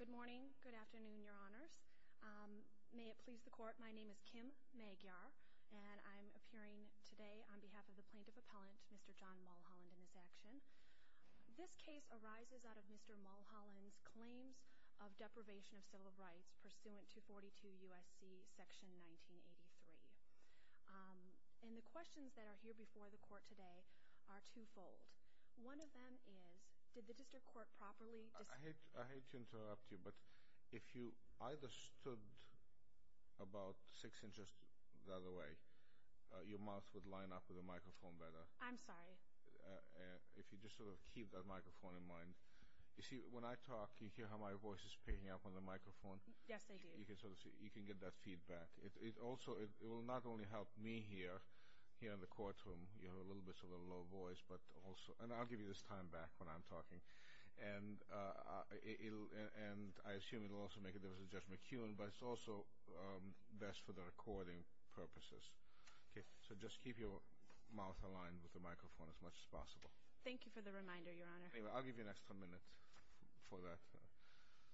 Good morning, good afternoon, your honors. May it please the court, my name is Kim Magyar, and I'm appearing today on behalf of the Plaintiff Appellant, Mr. John Mulholland, in this action. This case arises out of Mr. Mulholland's claims of deprivation of civil rights pursuant to 42 U.S.C. section 1983. And the questions that are here before the court today are two-fold. One of them is, did the district court properly... I hate to interrupt you, but if you either stood about six inches that-a-way, your mouth would line up with the microphone better. I'm sorry. If you just sort of keep that microphone in mind. You see, when I talk, you hear how my voice is picking up on the microphone? Yes, I do. You can get that feedback. It will not only help me here in the courtroom, you have a little bit of a low voice, but also-and I'll give you this time back when I'm talking. And I assume it will also make a difference to Judge McKeown, but it's also best for the recording purposes. Okay, so just keep your mouth aligned with the microphone as much as possible. Thank you for the reminder, your honor. I'll give you an extra minute for that.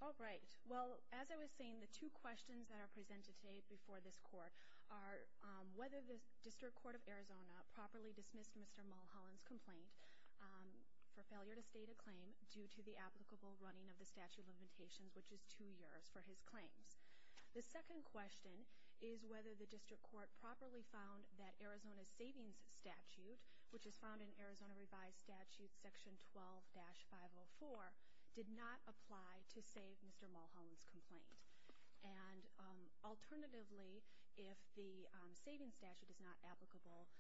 All right. Well, as I was saying, the two questions that are presented today before this court are whether the District Court of Arizona properly dismissed Mr. Mulholland's complaint for failure to state a claim due to the applicable running of the statute of limitations, which is two years, for his claims. The second question is whether the District Court properly found that Arizona's savings statute, which is found in Arizona Revised Statute Section 12-504, did not apply to save Mr. Mulholland's complaint. And alternatively, if the savings statute is not applicable,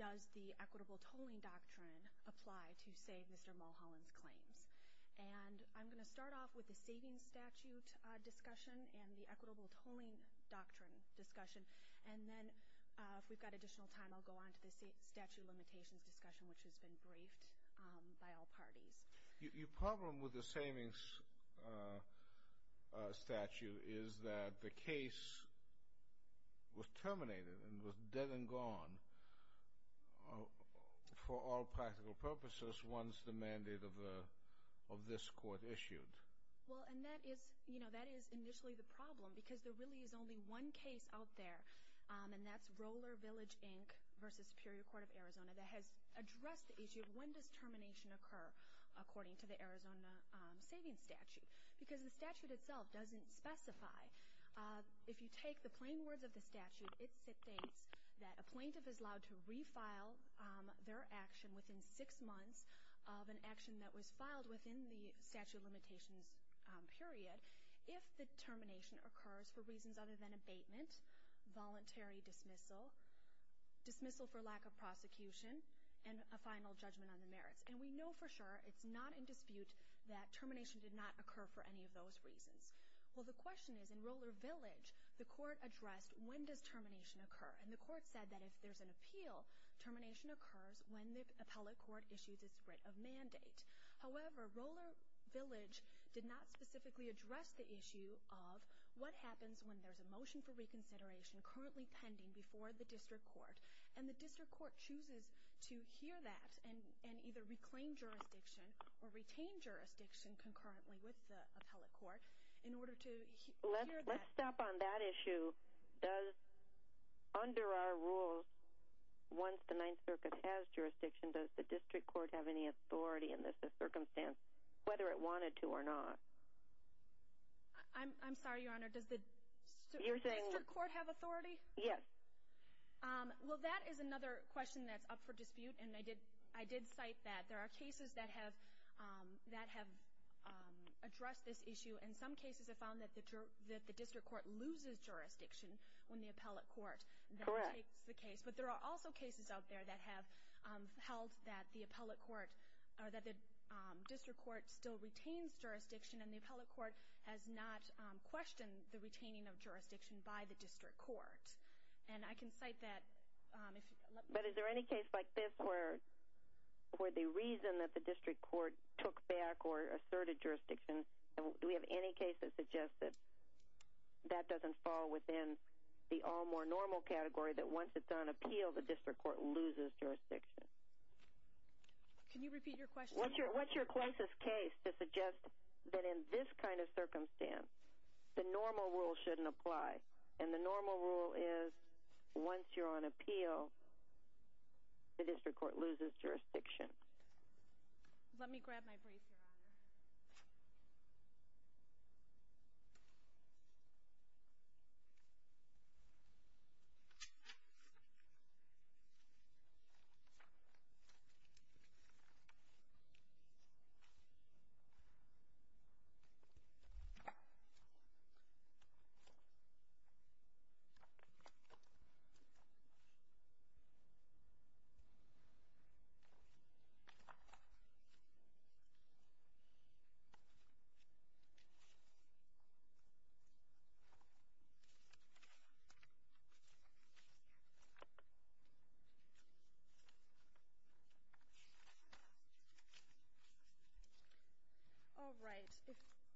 does the equitable tolling doctrine apply to save Mr. Mulholland's claims? And I'm going to start off with the savings statute discussion and the equitable tolling doctrine discussion, and then if we've got additional time, I'll go on to the statute of limitations discussion, which has been briefed by all parties. Your problem with the savings statute is that the case was terminated and was dead and gone for all practical purposes once the mandate of this court issued. Well, and that is, you know, that is initially the problem because there really is only one case out there, and that's Roller Village, Inc. v. Superior Court of Arizona that has addressed the issue of when does termination occur. According to the Arizona savings statute. Because the statute itself doesn't specify. If you take the plain words of the statute, it states that a plaintiff is allowed to refile their action within six months of an action that was filed within the statute of limitations period if the termination occurs for reasons other than abatement, voluntary dismissal, dismissal for lack of prosecution, and a final judgment on the merits. And we know for sure, it's not in dispute, that termination did not occur for any of those reasons. Well, the question is, in Roller Village, the court addressed when does termination occur. And the court said that if there's an appeal, termination occurs when the appellate court issues its writ of mandate. However, Roller Village did not specifically address the issue of what happens when there's a motion for reconsideration currently pending before the district court. And the district court chooses to hear that and either reclaim jurisdiction or retain jurisdiction concurrently with the appellate court in order to hear that. Let's stop on that issue. Does, under our rules, once the Ninth Circuit has jurisdiction, does the district court have any authority in this circumstance, whether it wanted to or not? I'm sorry, Your Honor, does the district court have authority? Yes. Well, that is another question that's up for dispute, and I did cite that. There are cases that have addressed this issue. And some cases have found that the district court loses jurisdiction when the appellate court takes the case. But there are also cases out there that have held that the district court still retains jurisdiction, and the appellate court has not questioned the retaining of jurisdiction by the district court. And I can cite that. But is there any case like this where the reason that the district court took back or asserted jurisdiction, do we have any case that suggests that that doesn't fall within the all-more-normal category, that once it's on appeal, the district court loses jurisdiction? Can you repeat your question? What's your closest case to suggest that in this kind of circumstance, the normal rule shouldn't apply, and the normal rule is once you're on appeal, the district court loses jurisdiction? Let me grab my brief, Your Honor. Okay. All right.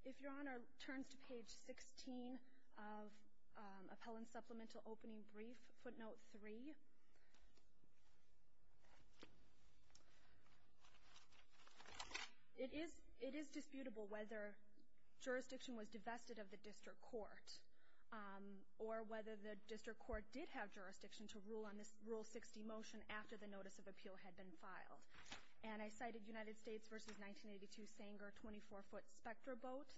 If Your Honor turns to page 16 of Appellant Supplemental Opening Brief, footnote 3, it is disputable whether jurisdiction was divested of the district court or whether the district court did have jurisdiction to rule on this Rule 60 motion after the notice of appeal had been filed. And I cited United States v. 1982 Sanger 24-foot spectra vote,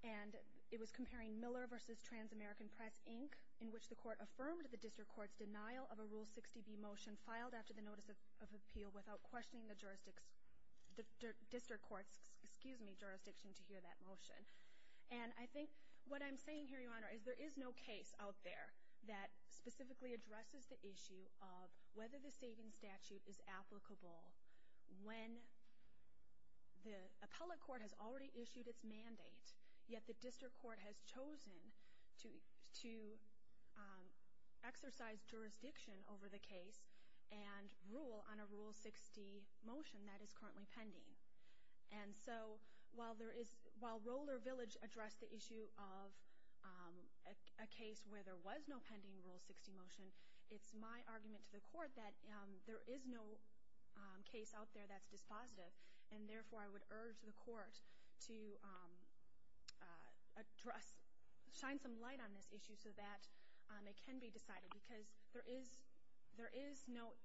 and it was comparing Miller v. Trans-American Press, Inc., in which the court affirmed the district court's denial of a Rule 60b motion filed after the notice of appeal without questioning the jurisdiction to hear that motion. There is no case out there that specifically addresses the issue of whether the savings statute is applicable when the appellate court has already issued its mandate, yet the district court has chosen to exercise jurisdiction over the case and rule on a Rule 60 motion that is currently pending. And so while Roller Village addressed the issue of a case where there was no pending Rule 60 motion, it's my argument to the court that there is no case out there that's dispositive, and therefore I would urge the court to shine some light on this issue so that it can be decided, because there is no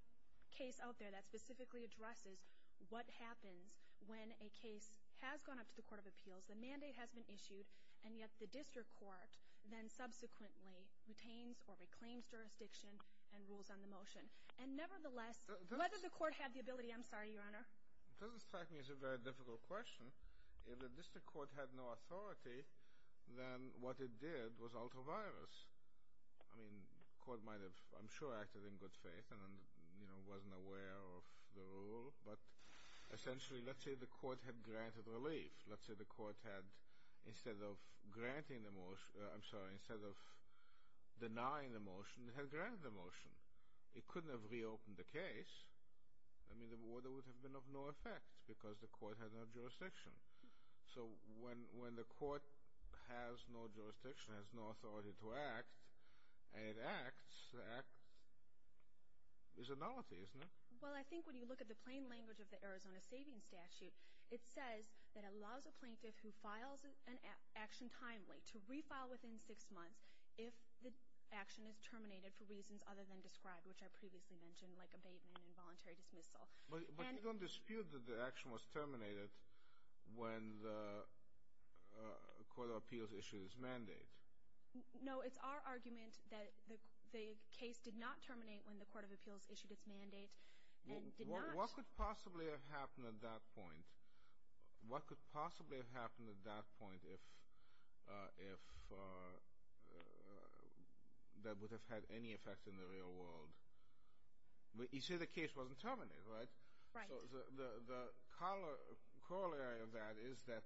case out there that specifically addresses what happens when a case has gone up to the Court of Appeals, the mandate has been issued, and yet the district court then subsequently retains or reclaims jurisdiction and rules on the motion. And nevertheless, whether the court had the ability, I'm sorry, Your Honor. It doesn't strike me as a very difficult question. If the district court had no authority, then what it did was alter virus. I mean, the court might have, I'm sure, acted in good faith and, you know, wasn't aware of the rule. But essentially, let's say the court had granted relief. Let's say the court had, instead of granting the motion, I'm sorry, instead of denying the motion, had granted the motion. It couldn't have reopened the case. I mean, the order would have been of no effect because the court had no jurisdiction. So when the court has no jurisdiction, has no authority to act, and it acts, the act is a nullity, isn't it? Well, I think when you look at the plain language of the Arizona Savings Statute, it says that it allows a plaintiff who files an action timely to refile within six months if the action is terminated for reasons other than described, which I previously mentioned, like abatement and voluntary dismissal. But you don't dispute that the action was terminated when the Court of Appeals issued its mandate. No, it's our argument that the case did not terminate when the Court of Appeals issued its mandate and did not. What could possibly have happened at that point? What could possibly have happened at that point if that would have had any effect in the real world? You say the case wasn't terminated, right? Right. So the corollary of that is that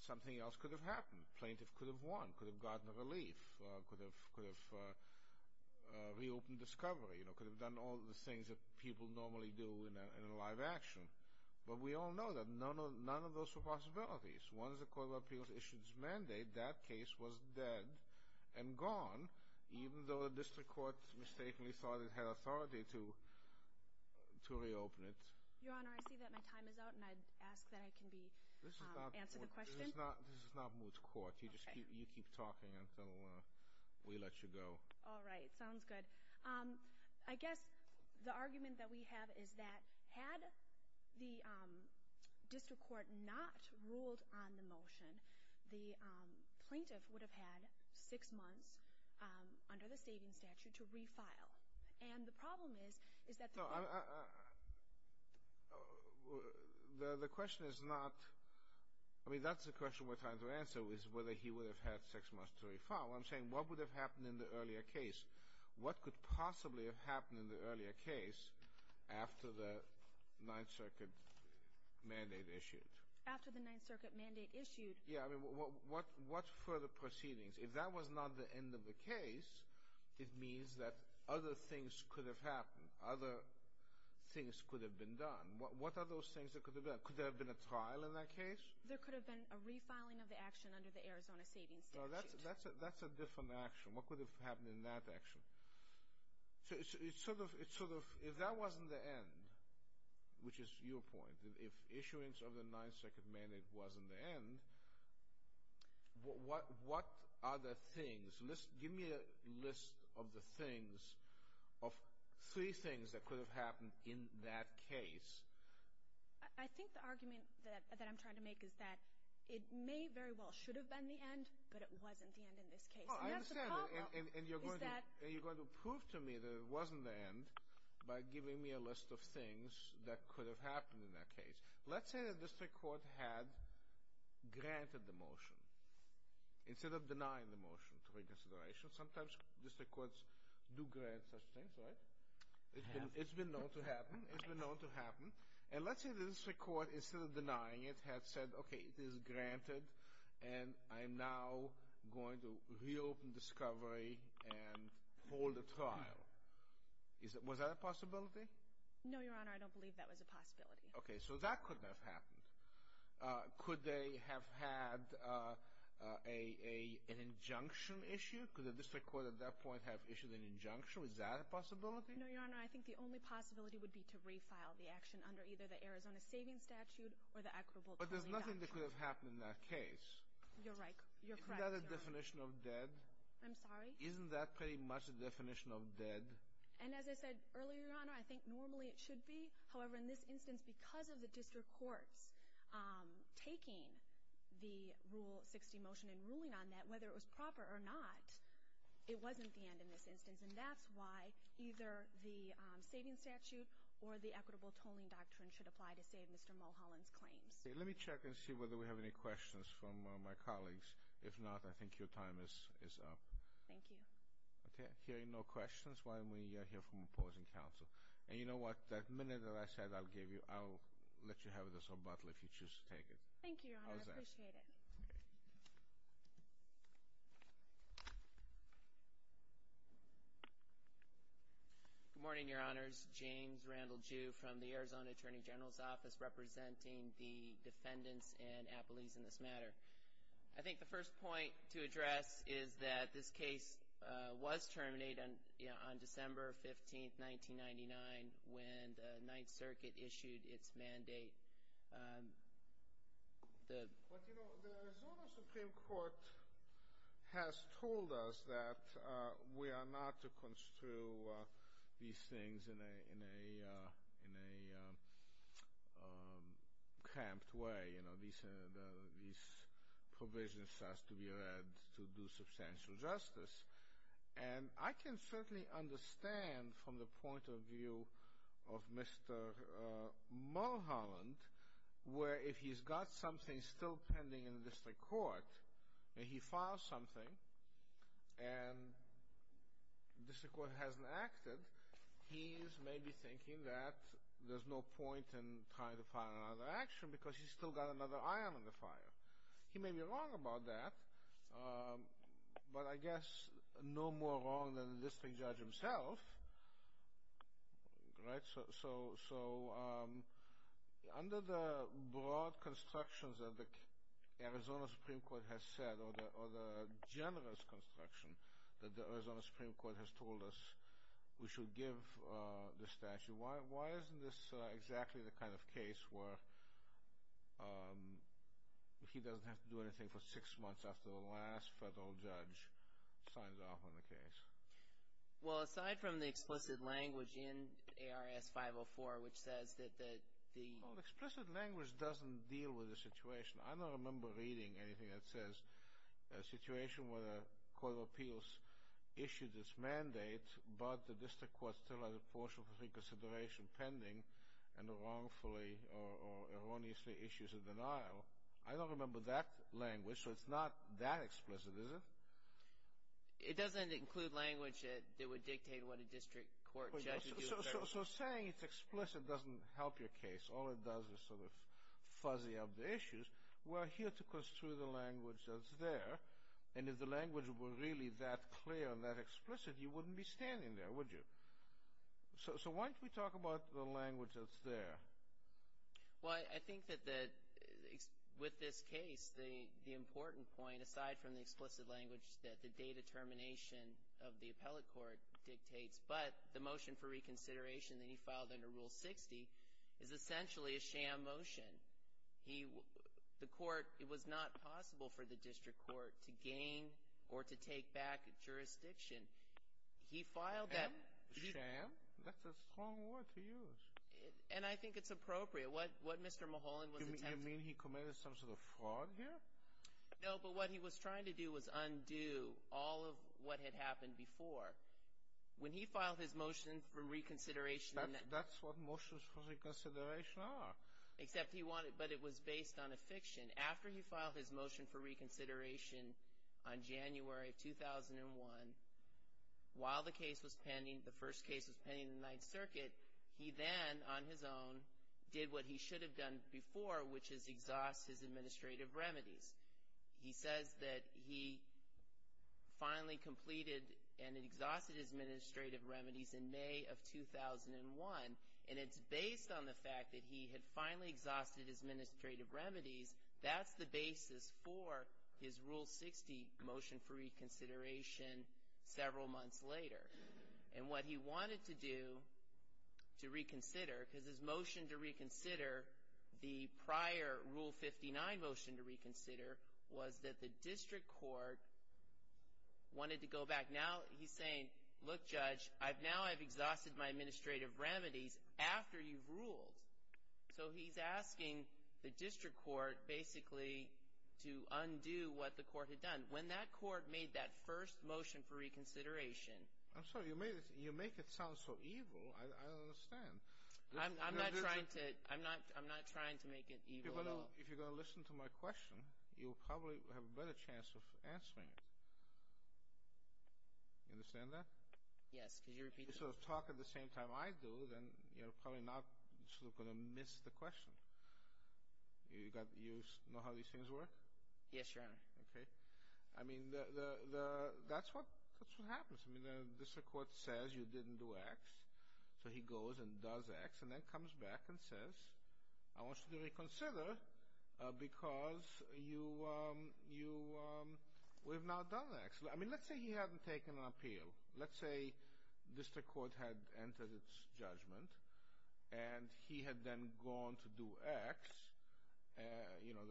something else could have happened. The plaintiff could have won, could have gotten relief, could have reopened discovery, could have done all the things that people normally do in a live action. But we all know that none of those are possibilities. Once the Court of Appeals issued its mandate, that case was dead and gone, even though the district court mistakenly thought it had authority to reopen it. Your Honor, I see that my time is out, and I ask that I can answer the question. This is not moot court. You keep talking until we let you go. All right. Sounds good. I guess the argument that we have is that had the district court not ruled on the motion, the plaintiff would have had six months under the saving statute to re-file. And the problem is, is that the plaintiff— No, the question is not—I mean, that's the question we're trying to answer, is whether he would have had six months to re-file. What I'm saying, what would have happened in the earlier case? What could possibly have happened in the earlier case after the Ninth Circuit mandate issued? After the Ninth Circuit mandate issued— Yeah, I mean, what further proceedings? If that was not the end of the case, it means that other things could have happened. Other things could have been done. What are those things that could have been done? Could there have been a trial in that case? There could have been a re-filing of the action under the Arizona saving statute. No, that's a different action. What could have happened in that action? So it's sort of—if that wasn't the end, which is your point, if issuance of the Ninth Circuit mandate wasn't the end, what other things? Give me a list of the things, of three things that could have happened in that case. I think the argument that I'm trying to make is that it may very well should have been the end, but it wasn't the end in this case. No, I understand, and you're going to prove to me that it wasn't the end by giving me a list of things that could have happened in that case. Let's say the district court had granted the motion instead of denying the motion to reconsideration. Sometimes district courts do grant such things, right? It's been known to happen. It's been known to happen. And let's say the district court, instead of denying it, had said, okay, it is granted, and I'm now going to reopen discovery and hold a trial. Was that a possibility? No, Your Honor, I don't believe that was a possibility. Okay, so that couldn't have happened. Could they have had an injunction issue? Could the district court at that point have issued an injunction? Was that a possibility? No, Your Honor, I think the only possibility would be to refile the action under either the Arizona Savings Statute or the Equitable Tolling Doctrine. But there's nothing that could have happened in that case. You're right. You're correct, Your Honor. Isn't that a definition of dead? I'm sorry? Isn't that pretty much a definition of dead? And as I said earlier, Your Honor, I think normally it should be. However, in this instance, because of the district courts taking the Rule 60 motion and ruling on that, whether it was proper or not, it wasn't the end in this instance. And that's why either the Savings Statute or the Equitable Tolling Doctrine should apply to save Mr. Mulholland's claims. Let me check and see whether we have any questions from my colleagues. If not, I think your time is up. Thank you. Okay, hearing no questions, why don't we hear from opposing counsel. And you know what? That minute that I said I'll give you, I'll let you have this rebuttal if you choose to take it. Thank you, Your Honor. I appreciate it. All right. Good morning, Your Honors. James Randall Jew from the Arizona Attorney General's Office representing the defendants and appellees in this matter. I think the first point to address is that this case was terminated on December 15, 1999, when the Ninth Circuit issued its mandate. The Arizona Supreme Court has told us that we are not to construe these things in a cramped way. These provisions have to be read to do substantial justice. And I can certainly understand from the point of view of Mr. Mulholland, where if he's got something still pending in the district court, and he files something and the district court hasn't acted, he's maybe thinking that there's no point in trying to file another action because he's still got another iron in the fire. He may be wrong about that, but I guess no more wrong than the district judge himself, right? So under the broad constructions that the Arizona Supreme Court has said, or the generous construction that the Arizona Supreme Court has told us we should give the statute, why isn't this exactly the kind of case where he doesn't have to do anything for six months after the last federal judge signs off on the case? Well, aside from the explicit language in ARS 504, which says that the… Well, explicit language doesn't deal with the situation. I don't remember reading anything that says a situation where the Court of Appeals issued its mandate, but the district court still has a portion of reconsideration pending and wrongfully or erroneously issues a denial. I don't remember that language, so it's not that explicit, is it? It doesn't include language that would dictate what a district court judge would do. So saying it's explicit doesn't help your case. All it does is sort of fuzzy up the issues. We're here to construe the language that's there, and if the language were really that clear and that explicit, you wouldn't be standing there, would you? So why don't we talk about the language that's there? Well, I think that with this case, the important point, aside from the explicit language that the date of termination of the appellate court dictates, but the motion for reconsideration that he filed under Rule 60 is essentially a sham motion. The court, it was not possible for the district court to gain or to take back jurisdiction. He filed that... Sham? That's a strong word to use. And I think it's appropriate. What Mr. Mulholland was attempting... You mean he committed some sort of fraud here? No, but what he was trying to do was undo all of what had happened before. When he filed his motion for reconsideration... That's what motions for reconsideration are. Except he wanted, but it was based on a fiction. After he filed his motion for reconsideration on January of 2001, while the case was pending, the first case was pending in the Ninth Circuit, he then, on his own, did what he should have done before, which is exhaust his administrative remedies. He says that he finally completed and exhausted his administrative remedies in May of 2001, and it's based on the fact that he had finally exhausted his administrative remedies. That's the basis for his Rule 60 motion for reconsideration several months later. And what he wanted to do to reconsider, because his motion to reconsider, the prior Rule 59 motion to reconsider, was that the district court wanted to go back. And now he's saying, look, Judge, now I've exhausted my administrative remedies after you've ruled. So he's asking the district court basically to undo what the court had done. When that court made that first motion for reconsideration... I'm sorry, you make it sound so evil. I don't understand. I'm not trying to make it evil at all. If you're going to listen to my question, you'll probably have a better chance of answering it. You understand that? Yes, could you repeat that? If you sort of talk at the same time I do, then you're probably not going to miss the question. You know how these things work? Yes, Your Honor. Okay. I mean, that's what happens. I mean, the district court says you didn't do X, so he goes and does X and then comes back and says, I want you to reconsider because you have now done X. I mean, let's say he hadn't taken an appeal. Let's say district court had entered its judgment and he had then gone to do X, you know,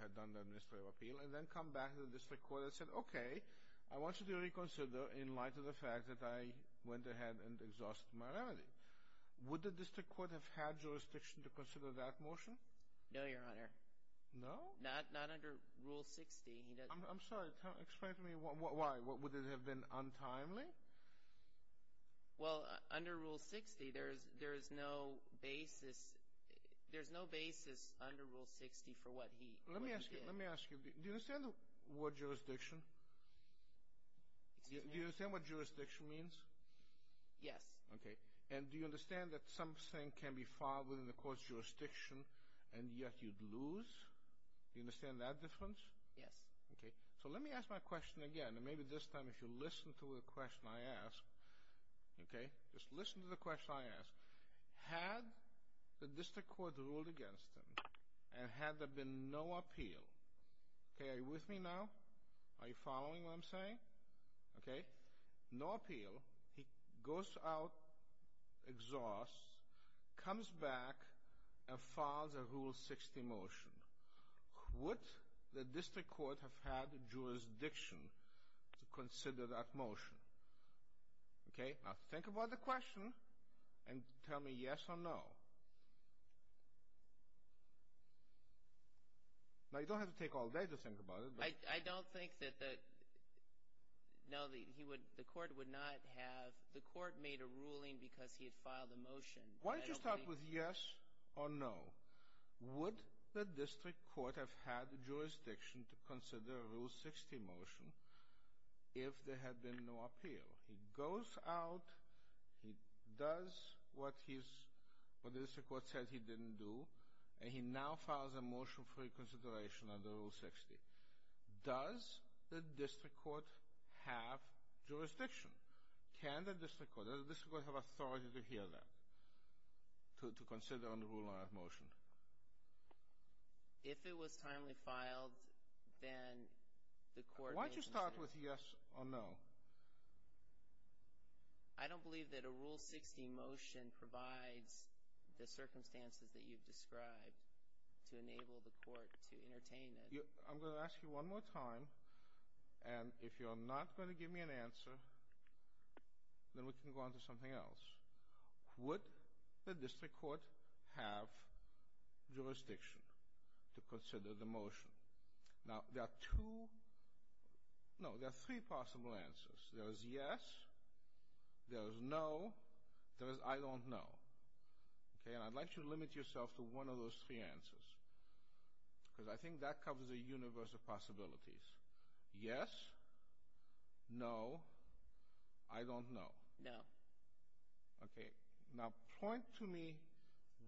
had done the administrative appeal, and then come back to the district court and said, I want you to reconsider in light of the fact that I went ahead and exhausted my remedy. Would the district court have had jurisdiction to consider that motion? No, Your Honor. No? Not under Rule 60. I'm sorry, explain to me why. Would it have been untimely? Well, under Rule 60, there is no basis under Rule 60 for what he did. Let me ask you, do you understand the word jurisdiction? Do you understand what jurisdiction means? Yes. Okay. And do you understand that something can be filed within the court's jurisdiction and yet you'd lose? Do you understand that difference? Yes. Okay. So let me ask my question again, and maybe this time if you'll listen to the question I ask. Okay. Just listen to the question I ask. Had the district court ruled against him and had there been no appeal, okay, are you with me now? Are you following what I'm saying? Okay. No appeal, he goes out, exhausts, comes back, and files a Rule 60 motion. Would the district court have had jurisdiction to consider that motion? Okay. Now, think about the question and tell me yes or no. Now, you don't have to take all day to think about it. I don't think that the court would not have. The court made a ruling because he had filed a motion. Why don't you start with yes or no? Would the district court have had jurisdiction to consider a Rule 60 motion if there had been no appeal? He goes out, he does what the district court said he didn't do, and he now files a motion for reconsideration under Rule 60. Does the district court have jurisdiction? Can the district court, does the district court have authority to hear that, to consider and rule on that motion? If it was timely filed, then the court would have said. Start with yes or no. I don't believe that a Rule 60 motion provides the circumstances that you've described to enable the court to entertain it. I'm going to ask you one more time, and if you're not going to give me an answer, then we can go on to something else. Would the district court have jurisdiction to consider the motion? Now, there are two, no, there are three possible answers. There is yes, there is no, there is I don't know. Okay, and I'd like you to limit yourself to one of those three answers, because I think that covers a universe of possibilities. Yes, no, I don't know. No. Okay, now point to me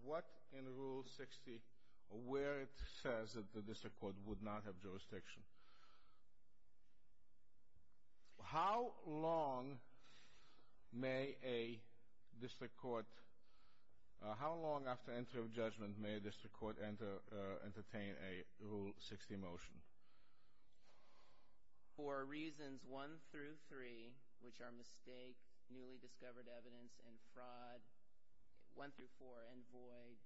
what in Rule 60, where it says that the district court would not have jurisdiction. How long may a district court, how long after interim judgment may a district court entertain a Rule 60 motion? For reasons one through three, which are mistake, newly discovered evidence, and fraud, one through four, and void,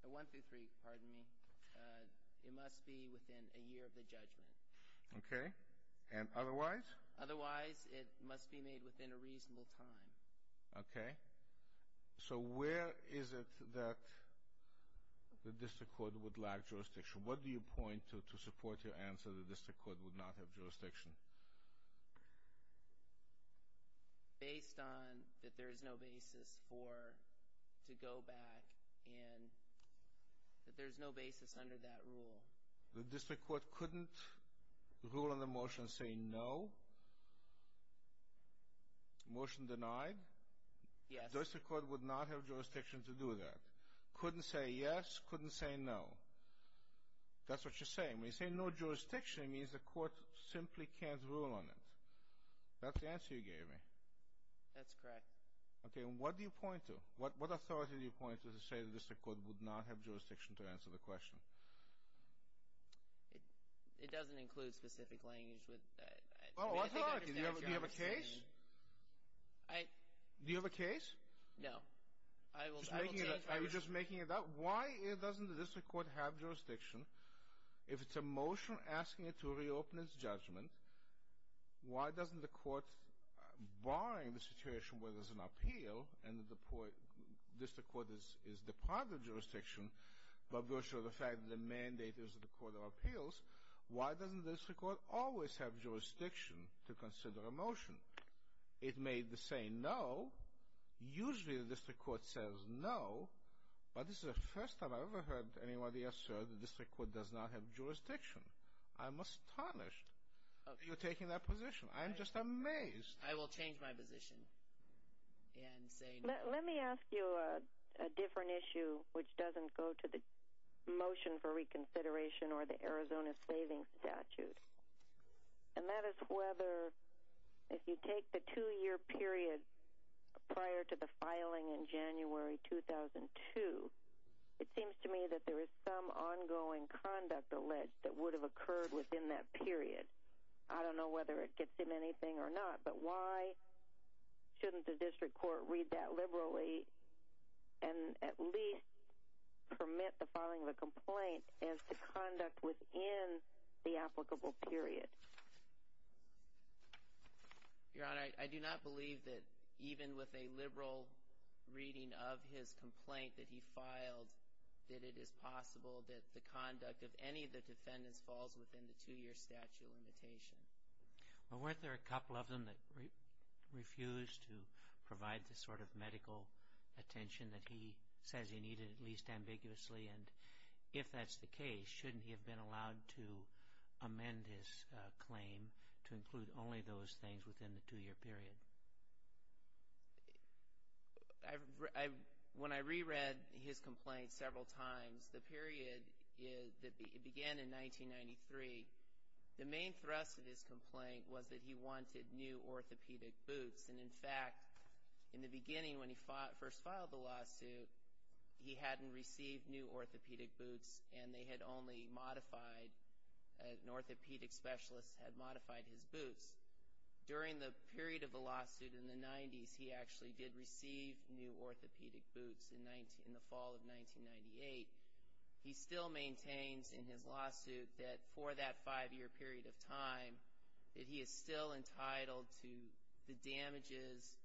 one through three, pardon me, it must be within a year of the judgment. Okay, and otherwise? Otherwise, it must be made within a reasonable time. Okay, so where is it that the district court would lack jurisdiction? What do you point to support your answer that the district court would not have jurisdiction? Based on that there is no basis for, to go back, and that there's no basis under that rule. The district court couldn't rule on the motion saying no? Motion denied? Yes. The district court would not have jurisdiction to do that? Couldn't say yes, couldn't say no. That's what you're saying. When you say no jurisdiction, it means the court simply can't rule on it. That's the answer you gave me. That's correct. Okay, and what do you point to? What authority do you point to to say the district court would not have jurisdiction to answer the question? It doesn't include specific language. Do you have a case? Do you have a case? No. I'm just making it up. Why doesn't the district court have jurisdiction if it's a motion asking it to reopen its judgment? Why doesn't the court, barring the situation where there's an appeal and the district court is the part of the jurisdiction, but virtue of the fact that the mandate is the court of appeals, why doesn't the district court always have jurisdiction to consider a motion? It may say no. Usually the district court says no, but this is the first time I've ever heard anybody assert the district court does not have jurisdiction. I'm astonished you're taking that position. I'm just amazed. I will change my position and say no. Let me ask you a different issue which doesn't go to the motion for reconsideration or the Arizona Savings Statute. And that is whether if you take the two-year period prior to the filing in January 2002, it seems to me that there is some ongoing conduct alleged that would have occurred within that period. I don't know whether it gets in anything or not, but why shouldn't the district court read that liberally and at least permit the filing of a complaint as to conduct within the applicable period? Your Honor, I do not believe that even with a liberal reading of his complaint that he filed, that it is possible that the conduct of any of the defendants falls within the two-year statute limitation. Well, weren't there a couple of them that refused to provide the sort of medical attention that he says he needed, at least ambiguously? And if that's the case, shouldn't he have been allowed to amend his claim to include only those things within the two-year period? When I reread his complaint several times, the period began in 1993. The main thrust of his complaint was that he wanted new orthopedic boots. And, in fact, in the beginning when he first filed the lawsuit, he hadn't received new orthopedic boots, and they had only modified, an orthopedic specialist had modified his boots. During the period of the lawsuit in the 90s, he actually did receive new orthopedic boots in the fall of 1998. He still maintains in his lawsuit that for that five-year period of time, that he is still entitled to the damages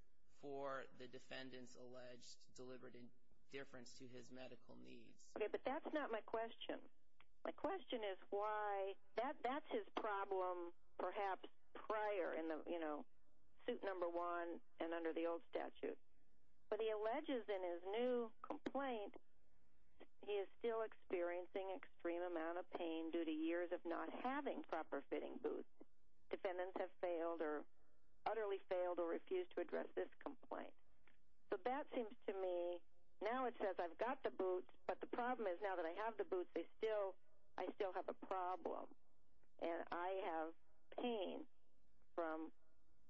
for the defendants alleged deliberate indifference to his medical needs. Okay, but that's not my question. My question is why that's his problem perhaps prior in the, you know, suit number one and under the old statute. But he alleges in his new complaint he is still experiencing extreme amount of pain due to years of not having proper fitting boots. Defendants have failed or utterly failed or refused to address this complaint. So that seems to me, now it says I've got the boots, but the problem is now that I have the boots, I still have a problem, and I have pain from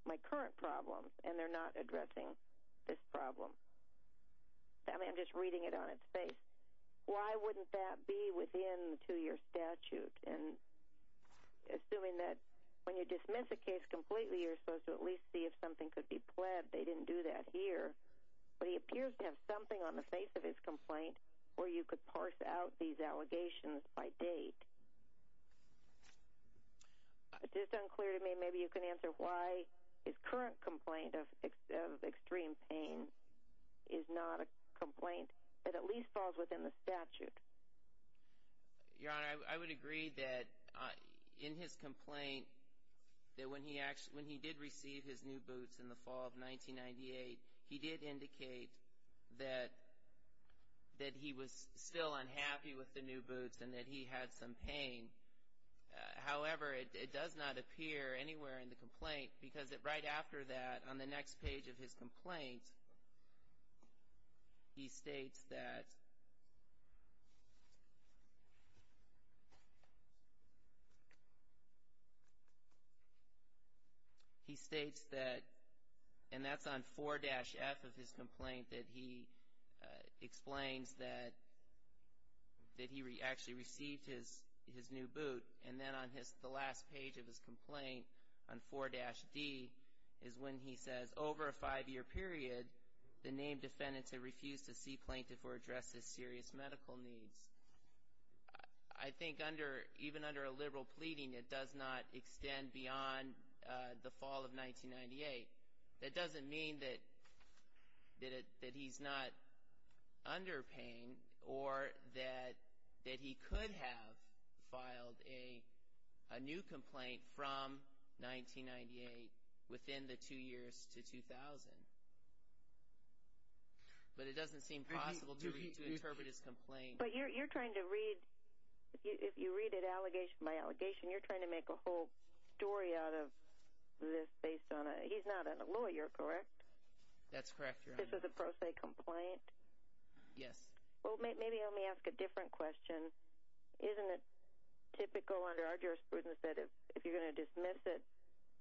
my current problems, and they're not addressing this problem. I mean, I'm just reading it on its face. Why wouldn't that be within the two-year statute? And assuming that when you dismiss a case completely, you're supposed to at least see if something could be pled. They didn't do that here. But he appears to have something on the face of his complaint where you could parse out these allegations by date. Just unclear to me, maybe you can answer why his current complaint of extreme pain is not a complaint that at least falls within the statute. Your Honor, I would agree that in his complaint that when he did receive his new boots in the fall of 1998, he did indicate that he was still unhappy with the new boots and that he had some pain. However, it does not appear anywhere in the complaint because right after that on the next page of his complaint, he states that, and that's on 4-F of his complaint that he explains that he actually received his new boot. And then on the last page of his complaint on 4-D is when he says, over a five-year period, the named defendants have refused to see plaintiff or address his serious medical needs. I think even under a liberal pleading, it does not extend beyond the fall of 1998. That doesn't mean that he's not under pain or that he could have filed a new complaint from 1998 within the two years to 2000. But it doesn't seem possible to interpret his complaint. But you're trying to read – if you read it allegation by allegation, you're trying to make a whole story out of this based on a – he's not a lawyer, correct? That's correct, Your Honor. This is a pro se complaint? Yes. Well, maybe let me ask a different question. Isn't it typical under our jurisprudence that if you're going to dismiss it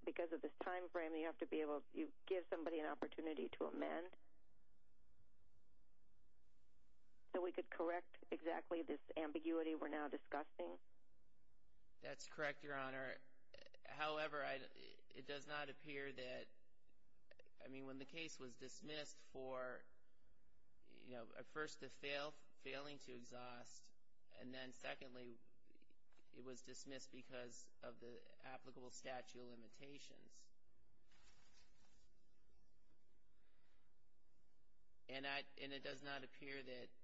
because of this time frame, you have to be able – you give somebody an opportunity to amend? So we could correct exactly this ambiguity we're now discussing? That's correct, Your Honor. However, it does not appear that – I mean, when the case was dismissed for, you know, first, the failing to exhaust, and then secondly, it was dismissed because of the applicable statute of limitations. And it does not appear that –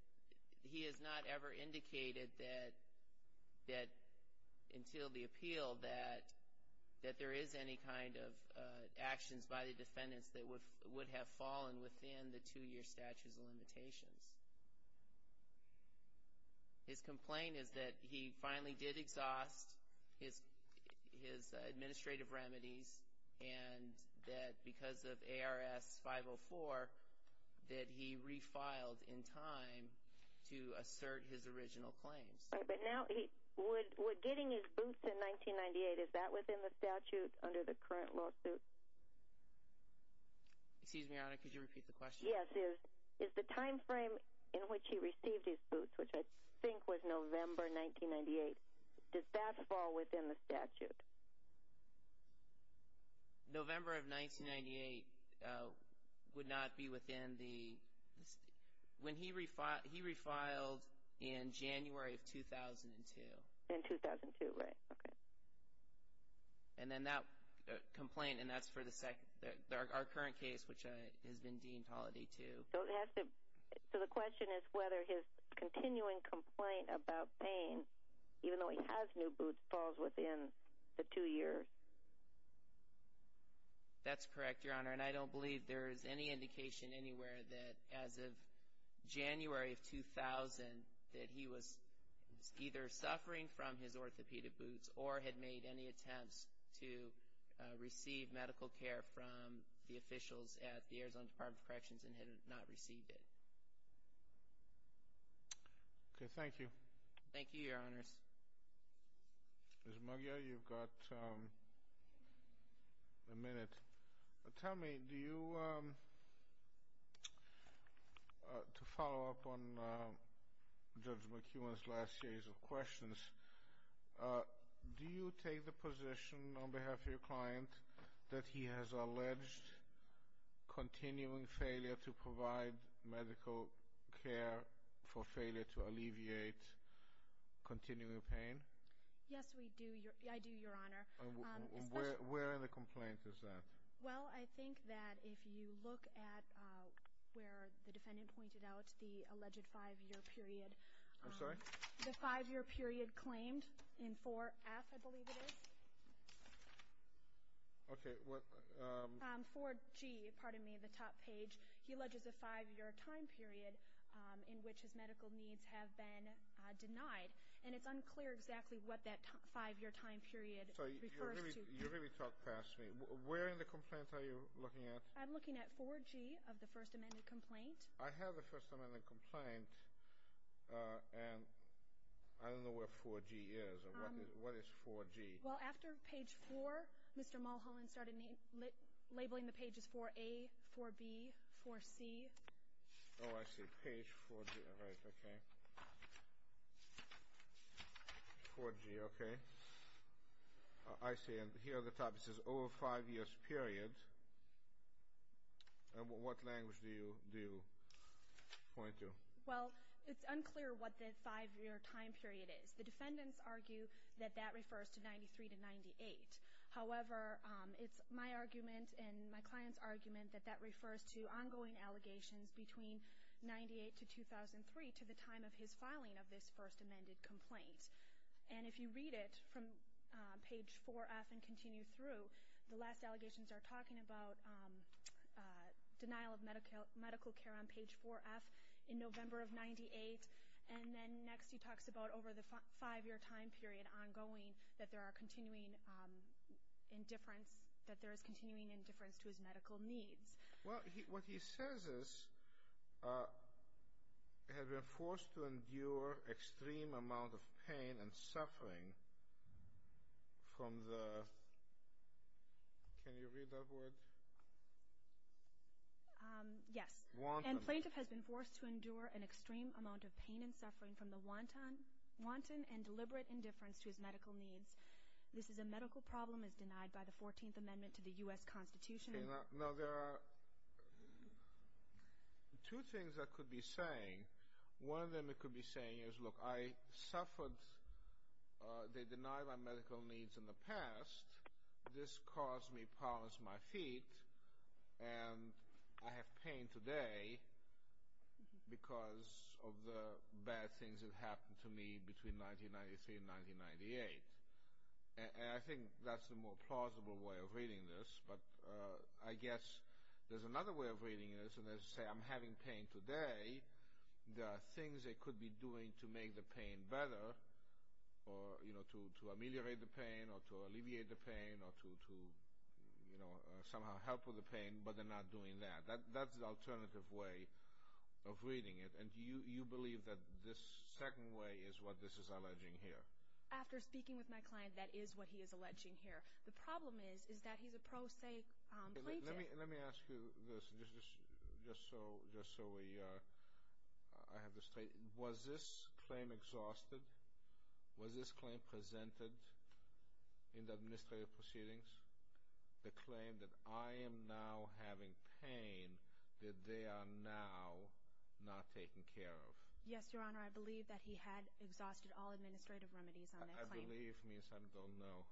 he has not ever indicated that until the appeal that there is any kind of actions by the defendants that would have fallen within the two-year statute of limitations. His complaint is that he finally did exhaust his administrative remedies, and that because of ARS 504, that he refiled in time to assert his original claims. But now, would getting his boots in 1998, is that within the statute under the current lawsuit? Excuse me, Your Honor, could you repeat the question? Yes. Is the time frame in which he received his boots, which I think was November 1998, does that fall within the statute? November of 1998 would not be within the – when he refiled, he refiled in January of 2002. In 2002, right. Okay. And then that complaint, and that's for the second – our current case, which has been deemed Holiday II. So the question is whether his continuing complaint about pain, even though he has new boots, falls within the two years. That's correct, Your Honor. And I don't believe there is any indication anywhere that as of January of 2000, that he was either suffering from his orthopedic boots or had made any attempts to receive medical care from the officials at the Arizona Department of Corrections and had not received it. Okay, thank you. Thank you, Your Honors. Ms. McGuire, you've got a minute. Tell me, do you – to follow up on Judge McEwen's last series of questions, do you take the position on behalf of your client that he has alleged continuing failure to provide medical care for failure to alleviate continuing pain? Yes, we do. I do, Your Honor. Where in the complaint is that? Well, I think that if you look at where the defendant pointed out, the alleged five-year period. I'm sorry? The five-year period claimed in 4F, I believe it is. Okay, what – 4G, pardon me, the top page. He alleges a five-year time period in which his medical needs have been denied. And it's unclear exactly what that five-year time period refers to. You really talked past me. Where in the complaint are you looking at? I'm looking at 4G of the First Amendment complaint. I have the First Amendment complaint, and I don't know where 4G is. What is 4G? Well, after page four, Mr. Mulholland started labeling the pages 4A, 4B, 4C. Oh, I see. Page 4G, all right, okay. 4G, okay. I see, and here at the top it says, over five years period. And what language do you point to? Well, it's unclear what the five-year time period is. The defendants argue that that refers to 93 to 98. However, it's my argument and my client's argument that that refers to ongoing allegations between 98 to 2003, to the time of his filing of this First Amendment complaint. And if you read it from page 4F and continue through, the last allegations are talking about denial of medical care on page 4F in November of 98. And then next he talks about over the five-year time period, ongoing, that there is continuing indifference to his medical needs. Well, what he says is, had been forced to endure extreme amount of pain and suffering from the, can you read that word? Yes. And plaintiff has been forced to endure an extreme amount of pain and suffering from the wanton and deliberate indifference to his medical needs. This is a medical problem as denied by the 14th Amendment to the U.S. Constitution. Now, there are two things I could be saying. One of them I could be saying is, look, I suffered. They denied my medical needs in the past. This caused me problems with my feet. And I have pain today because of the bad things that happened to me between 1993 and 1998. And I think that's a more plausible way of reading this. But I guess there's another way of reading this, and that is to say, I'm having pain today. There are things they could be doing to make the pain better, or to ameliorate the pain or to alleviate the pain or to somehow help with the pain, but they're not doing that. That's the alternative way of reading it. And do you believe that this second way is what this is alleging here? After speaking with my client, that is what he is alleging here. The problem is, is that he's a prosaic plaintiff. Let me ask you this, just so I have this straight. Was this claim exhausted? Was this claim presented in the administrative proceedings, the claim that I am now having pain that they are now not taking care of? Yes, Your Honor, I believe that he had exhausted all administrative remedies on that claim. I believe means I don't know.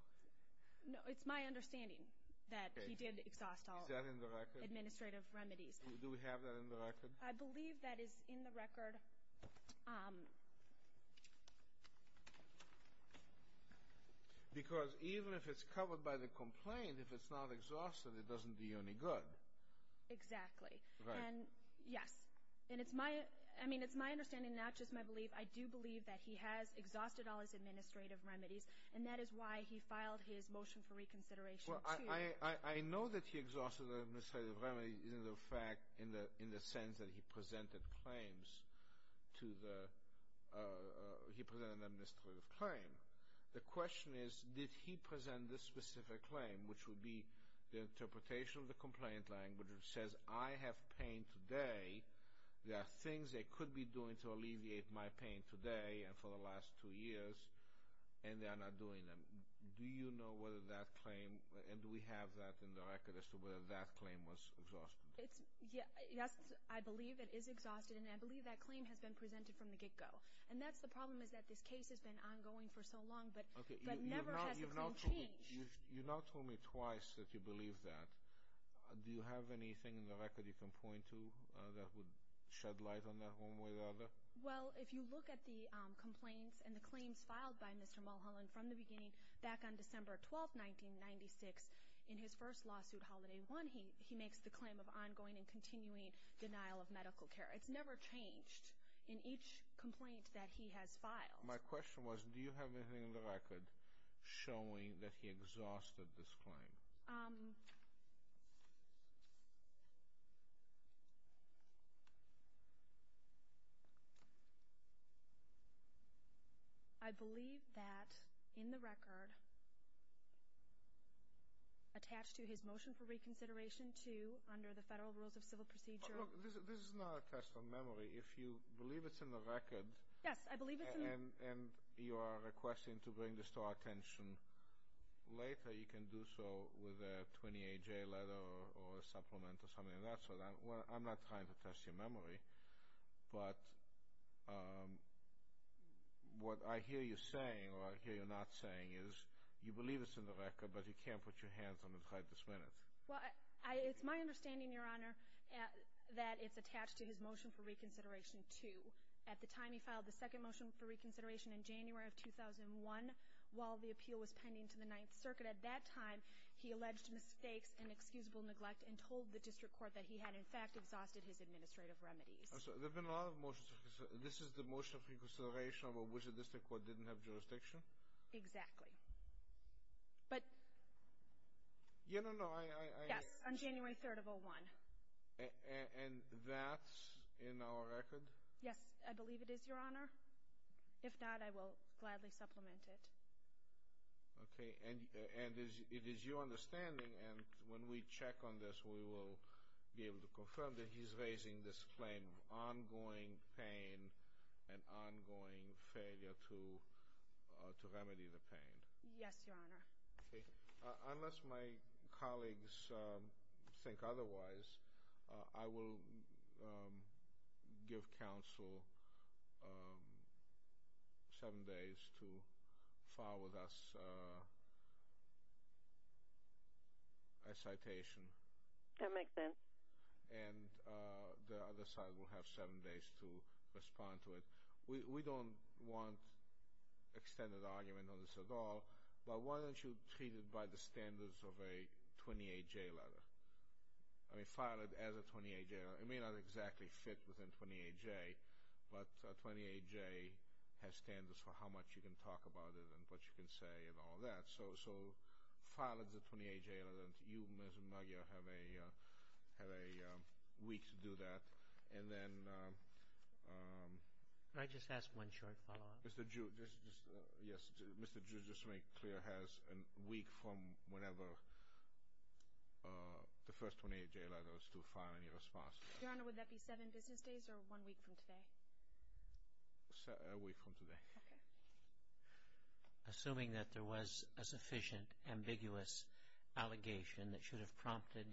No, it's my understanding that he did exhaust all administrative remedies. Is that in the record? Do we have that in the record? I believe that is in the record. Because even if it's covered by the complaint, if it's not exhausted, it doesn't do you any good. Exactly. Right. Yes. And it's my understanding, not just my belief, I do believe that he has exhausted all his administrative remedies, and that is why he filed his motion for reconsideration, too. Well, I know that he exhausted the administrative remedies in the sense that he presented claims to the – he presented an administrative claim. The question is, did he present this specific claim, which would be the interpretation of the complaint language which says, I have pain today, there are things they could be doing to alleviate my pain today and for the last two years, and they are not doing them. Do you know whether that claim – and do we have that in the record as to whether that claim was exhausted? Yes, I believe it is exhausted, and I believe that claim has been presented from the get-go. And that's the problem is that this case has been ongoing for so long, but never has the claim changed. You've now told me twice that you believe that. Do you have anything in the record you can point to that would shed light on that one way or the other? Well, if you look at the complaints and the claims filed by Mr. Mulholland from the beginning, back on December 12, 1996, in his first lawsuit, Holiday One, he makes the claim of ongoing and continuing denial of medical care. It's never changed in each complaint that he has filed. My question was, do you have anything in the record showing that he exhausted this claim? I believe that, in the record, attached to his motion for reconsideration to, under the Federal Rules of Civil Procedure – But look, this is not a test of memory. If you believe it's in the record – Yes, I believe it's in the – And you are requesting to bring this to our attention later. You can do so with a 28-J letter or a supplement or something of that sort. I'm not trying to test your memory. But what I hear you saying, or I hear you not saying, is you believe it's in the record, but you can't put your hands on it right this minute. Well, it's my understanding, Your Honor, that it's attached to his motion for reconsideration to. At the time he filed the second motion for reconsideration, in January of 2001, while the appeal was pending to the Ninth Circuit, at that time he alleged mistakes and excusable neglect and told the district court that he had, in fact, exhausted his administrative remedies. There have been a lot of motions. This is the motion for reconsideration about which the district court didn't have jurisdiction? Exactly. But – No, no, no, I – Yes, on January 3rd of 2001. And that's in our record? Yes, I believe it is, Your Honor. If not, I will gladly supplement it. Okay, and it is your understanding, and when we check on this, we will be able to confirm that he's raising this claim of ongoing pain and ongoing failure to remedy the pain. Yes, Your Honor. Unless my colleagues think otherwise, I will give counsel seven days to file with us a citation. That makes sense. And the other side will have seven days to respond to it. We don't want extended argument on this at all, but why don't you treat it by the standards of a 28-J letter? I mean, file it as a 28-J. It may not exactly fit within 28-J, but 28-J has standards for how much you can talk about it and what you can say and all that. So file it as a 28-J letter, and you, Mr. Maggio, have a week to do that. And then – Can I just ask one short follow-up? Mr. Giudice, yes, Mr. Giudice, just to make clear, has a week from whenever the first 28-J letter is to file any response. Your Honor, would that be seven business days or one week from today? A week from today. Okay. Assuming that there was a sufficient ambiguous allegation that should have prompted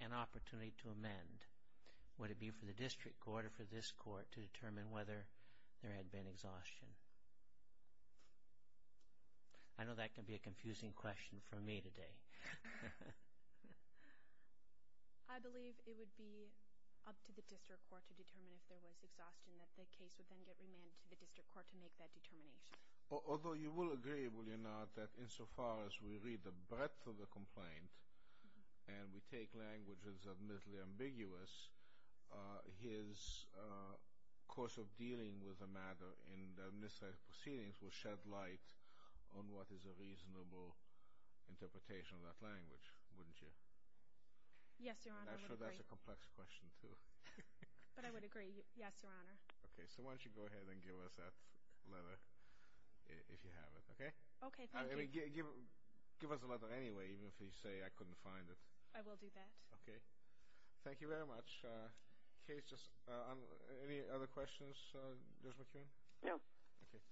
an opportunity to amend, would it be for the district court or for this court to determine whether there had been exhaustion? I know that can be a confusing question for me today. I believe it would be up to the district court to determine if there was exhaustion, that the case would then get remanded to the district court to make that determination. Although you will agree, will you not, that insofar as we read the breadth of the complaint and we take languages that are admittedly ambiguous, his course of dealing with the matter in the miscite proceedings will shed light on what is a reasonable interpretation of that language, wouldn't you? Yes, Your Honor, I would agree. I'm sure that's a complex question, too. But I would agree. Yes, Your Honor. Okay, so why don't you go ahead and give us that letter, if you have it, okay? Okay, thank you. Give us the letter anyway, even if you say I couldn't find it. I will do that. Okay, thank you very much. Any other questions, Judge McQueen? No. Okay.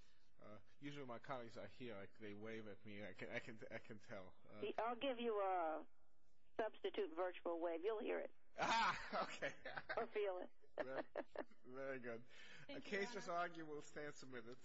Usually my colleagues are here. They wave at me. I can tell. I'll give you a substitute virtual wave. You'll hear it. Okay. Or feel it. Very good. Case is argued. We'll stand submitted.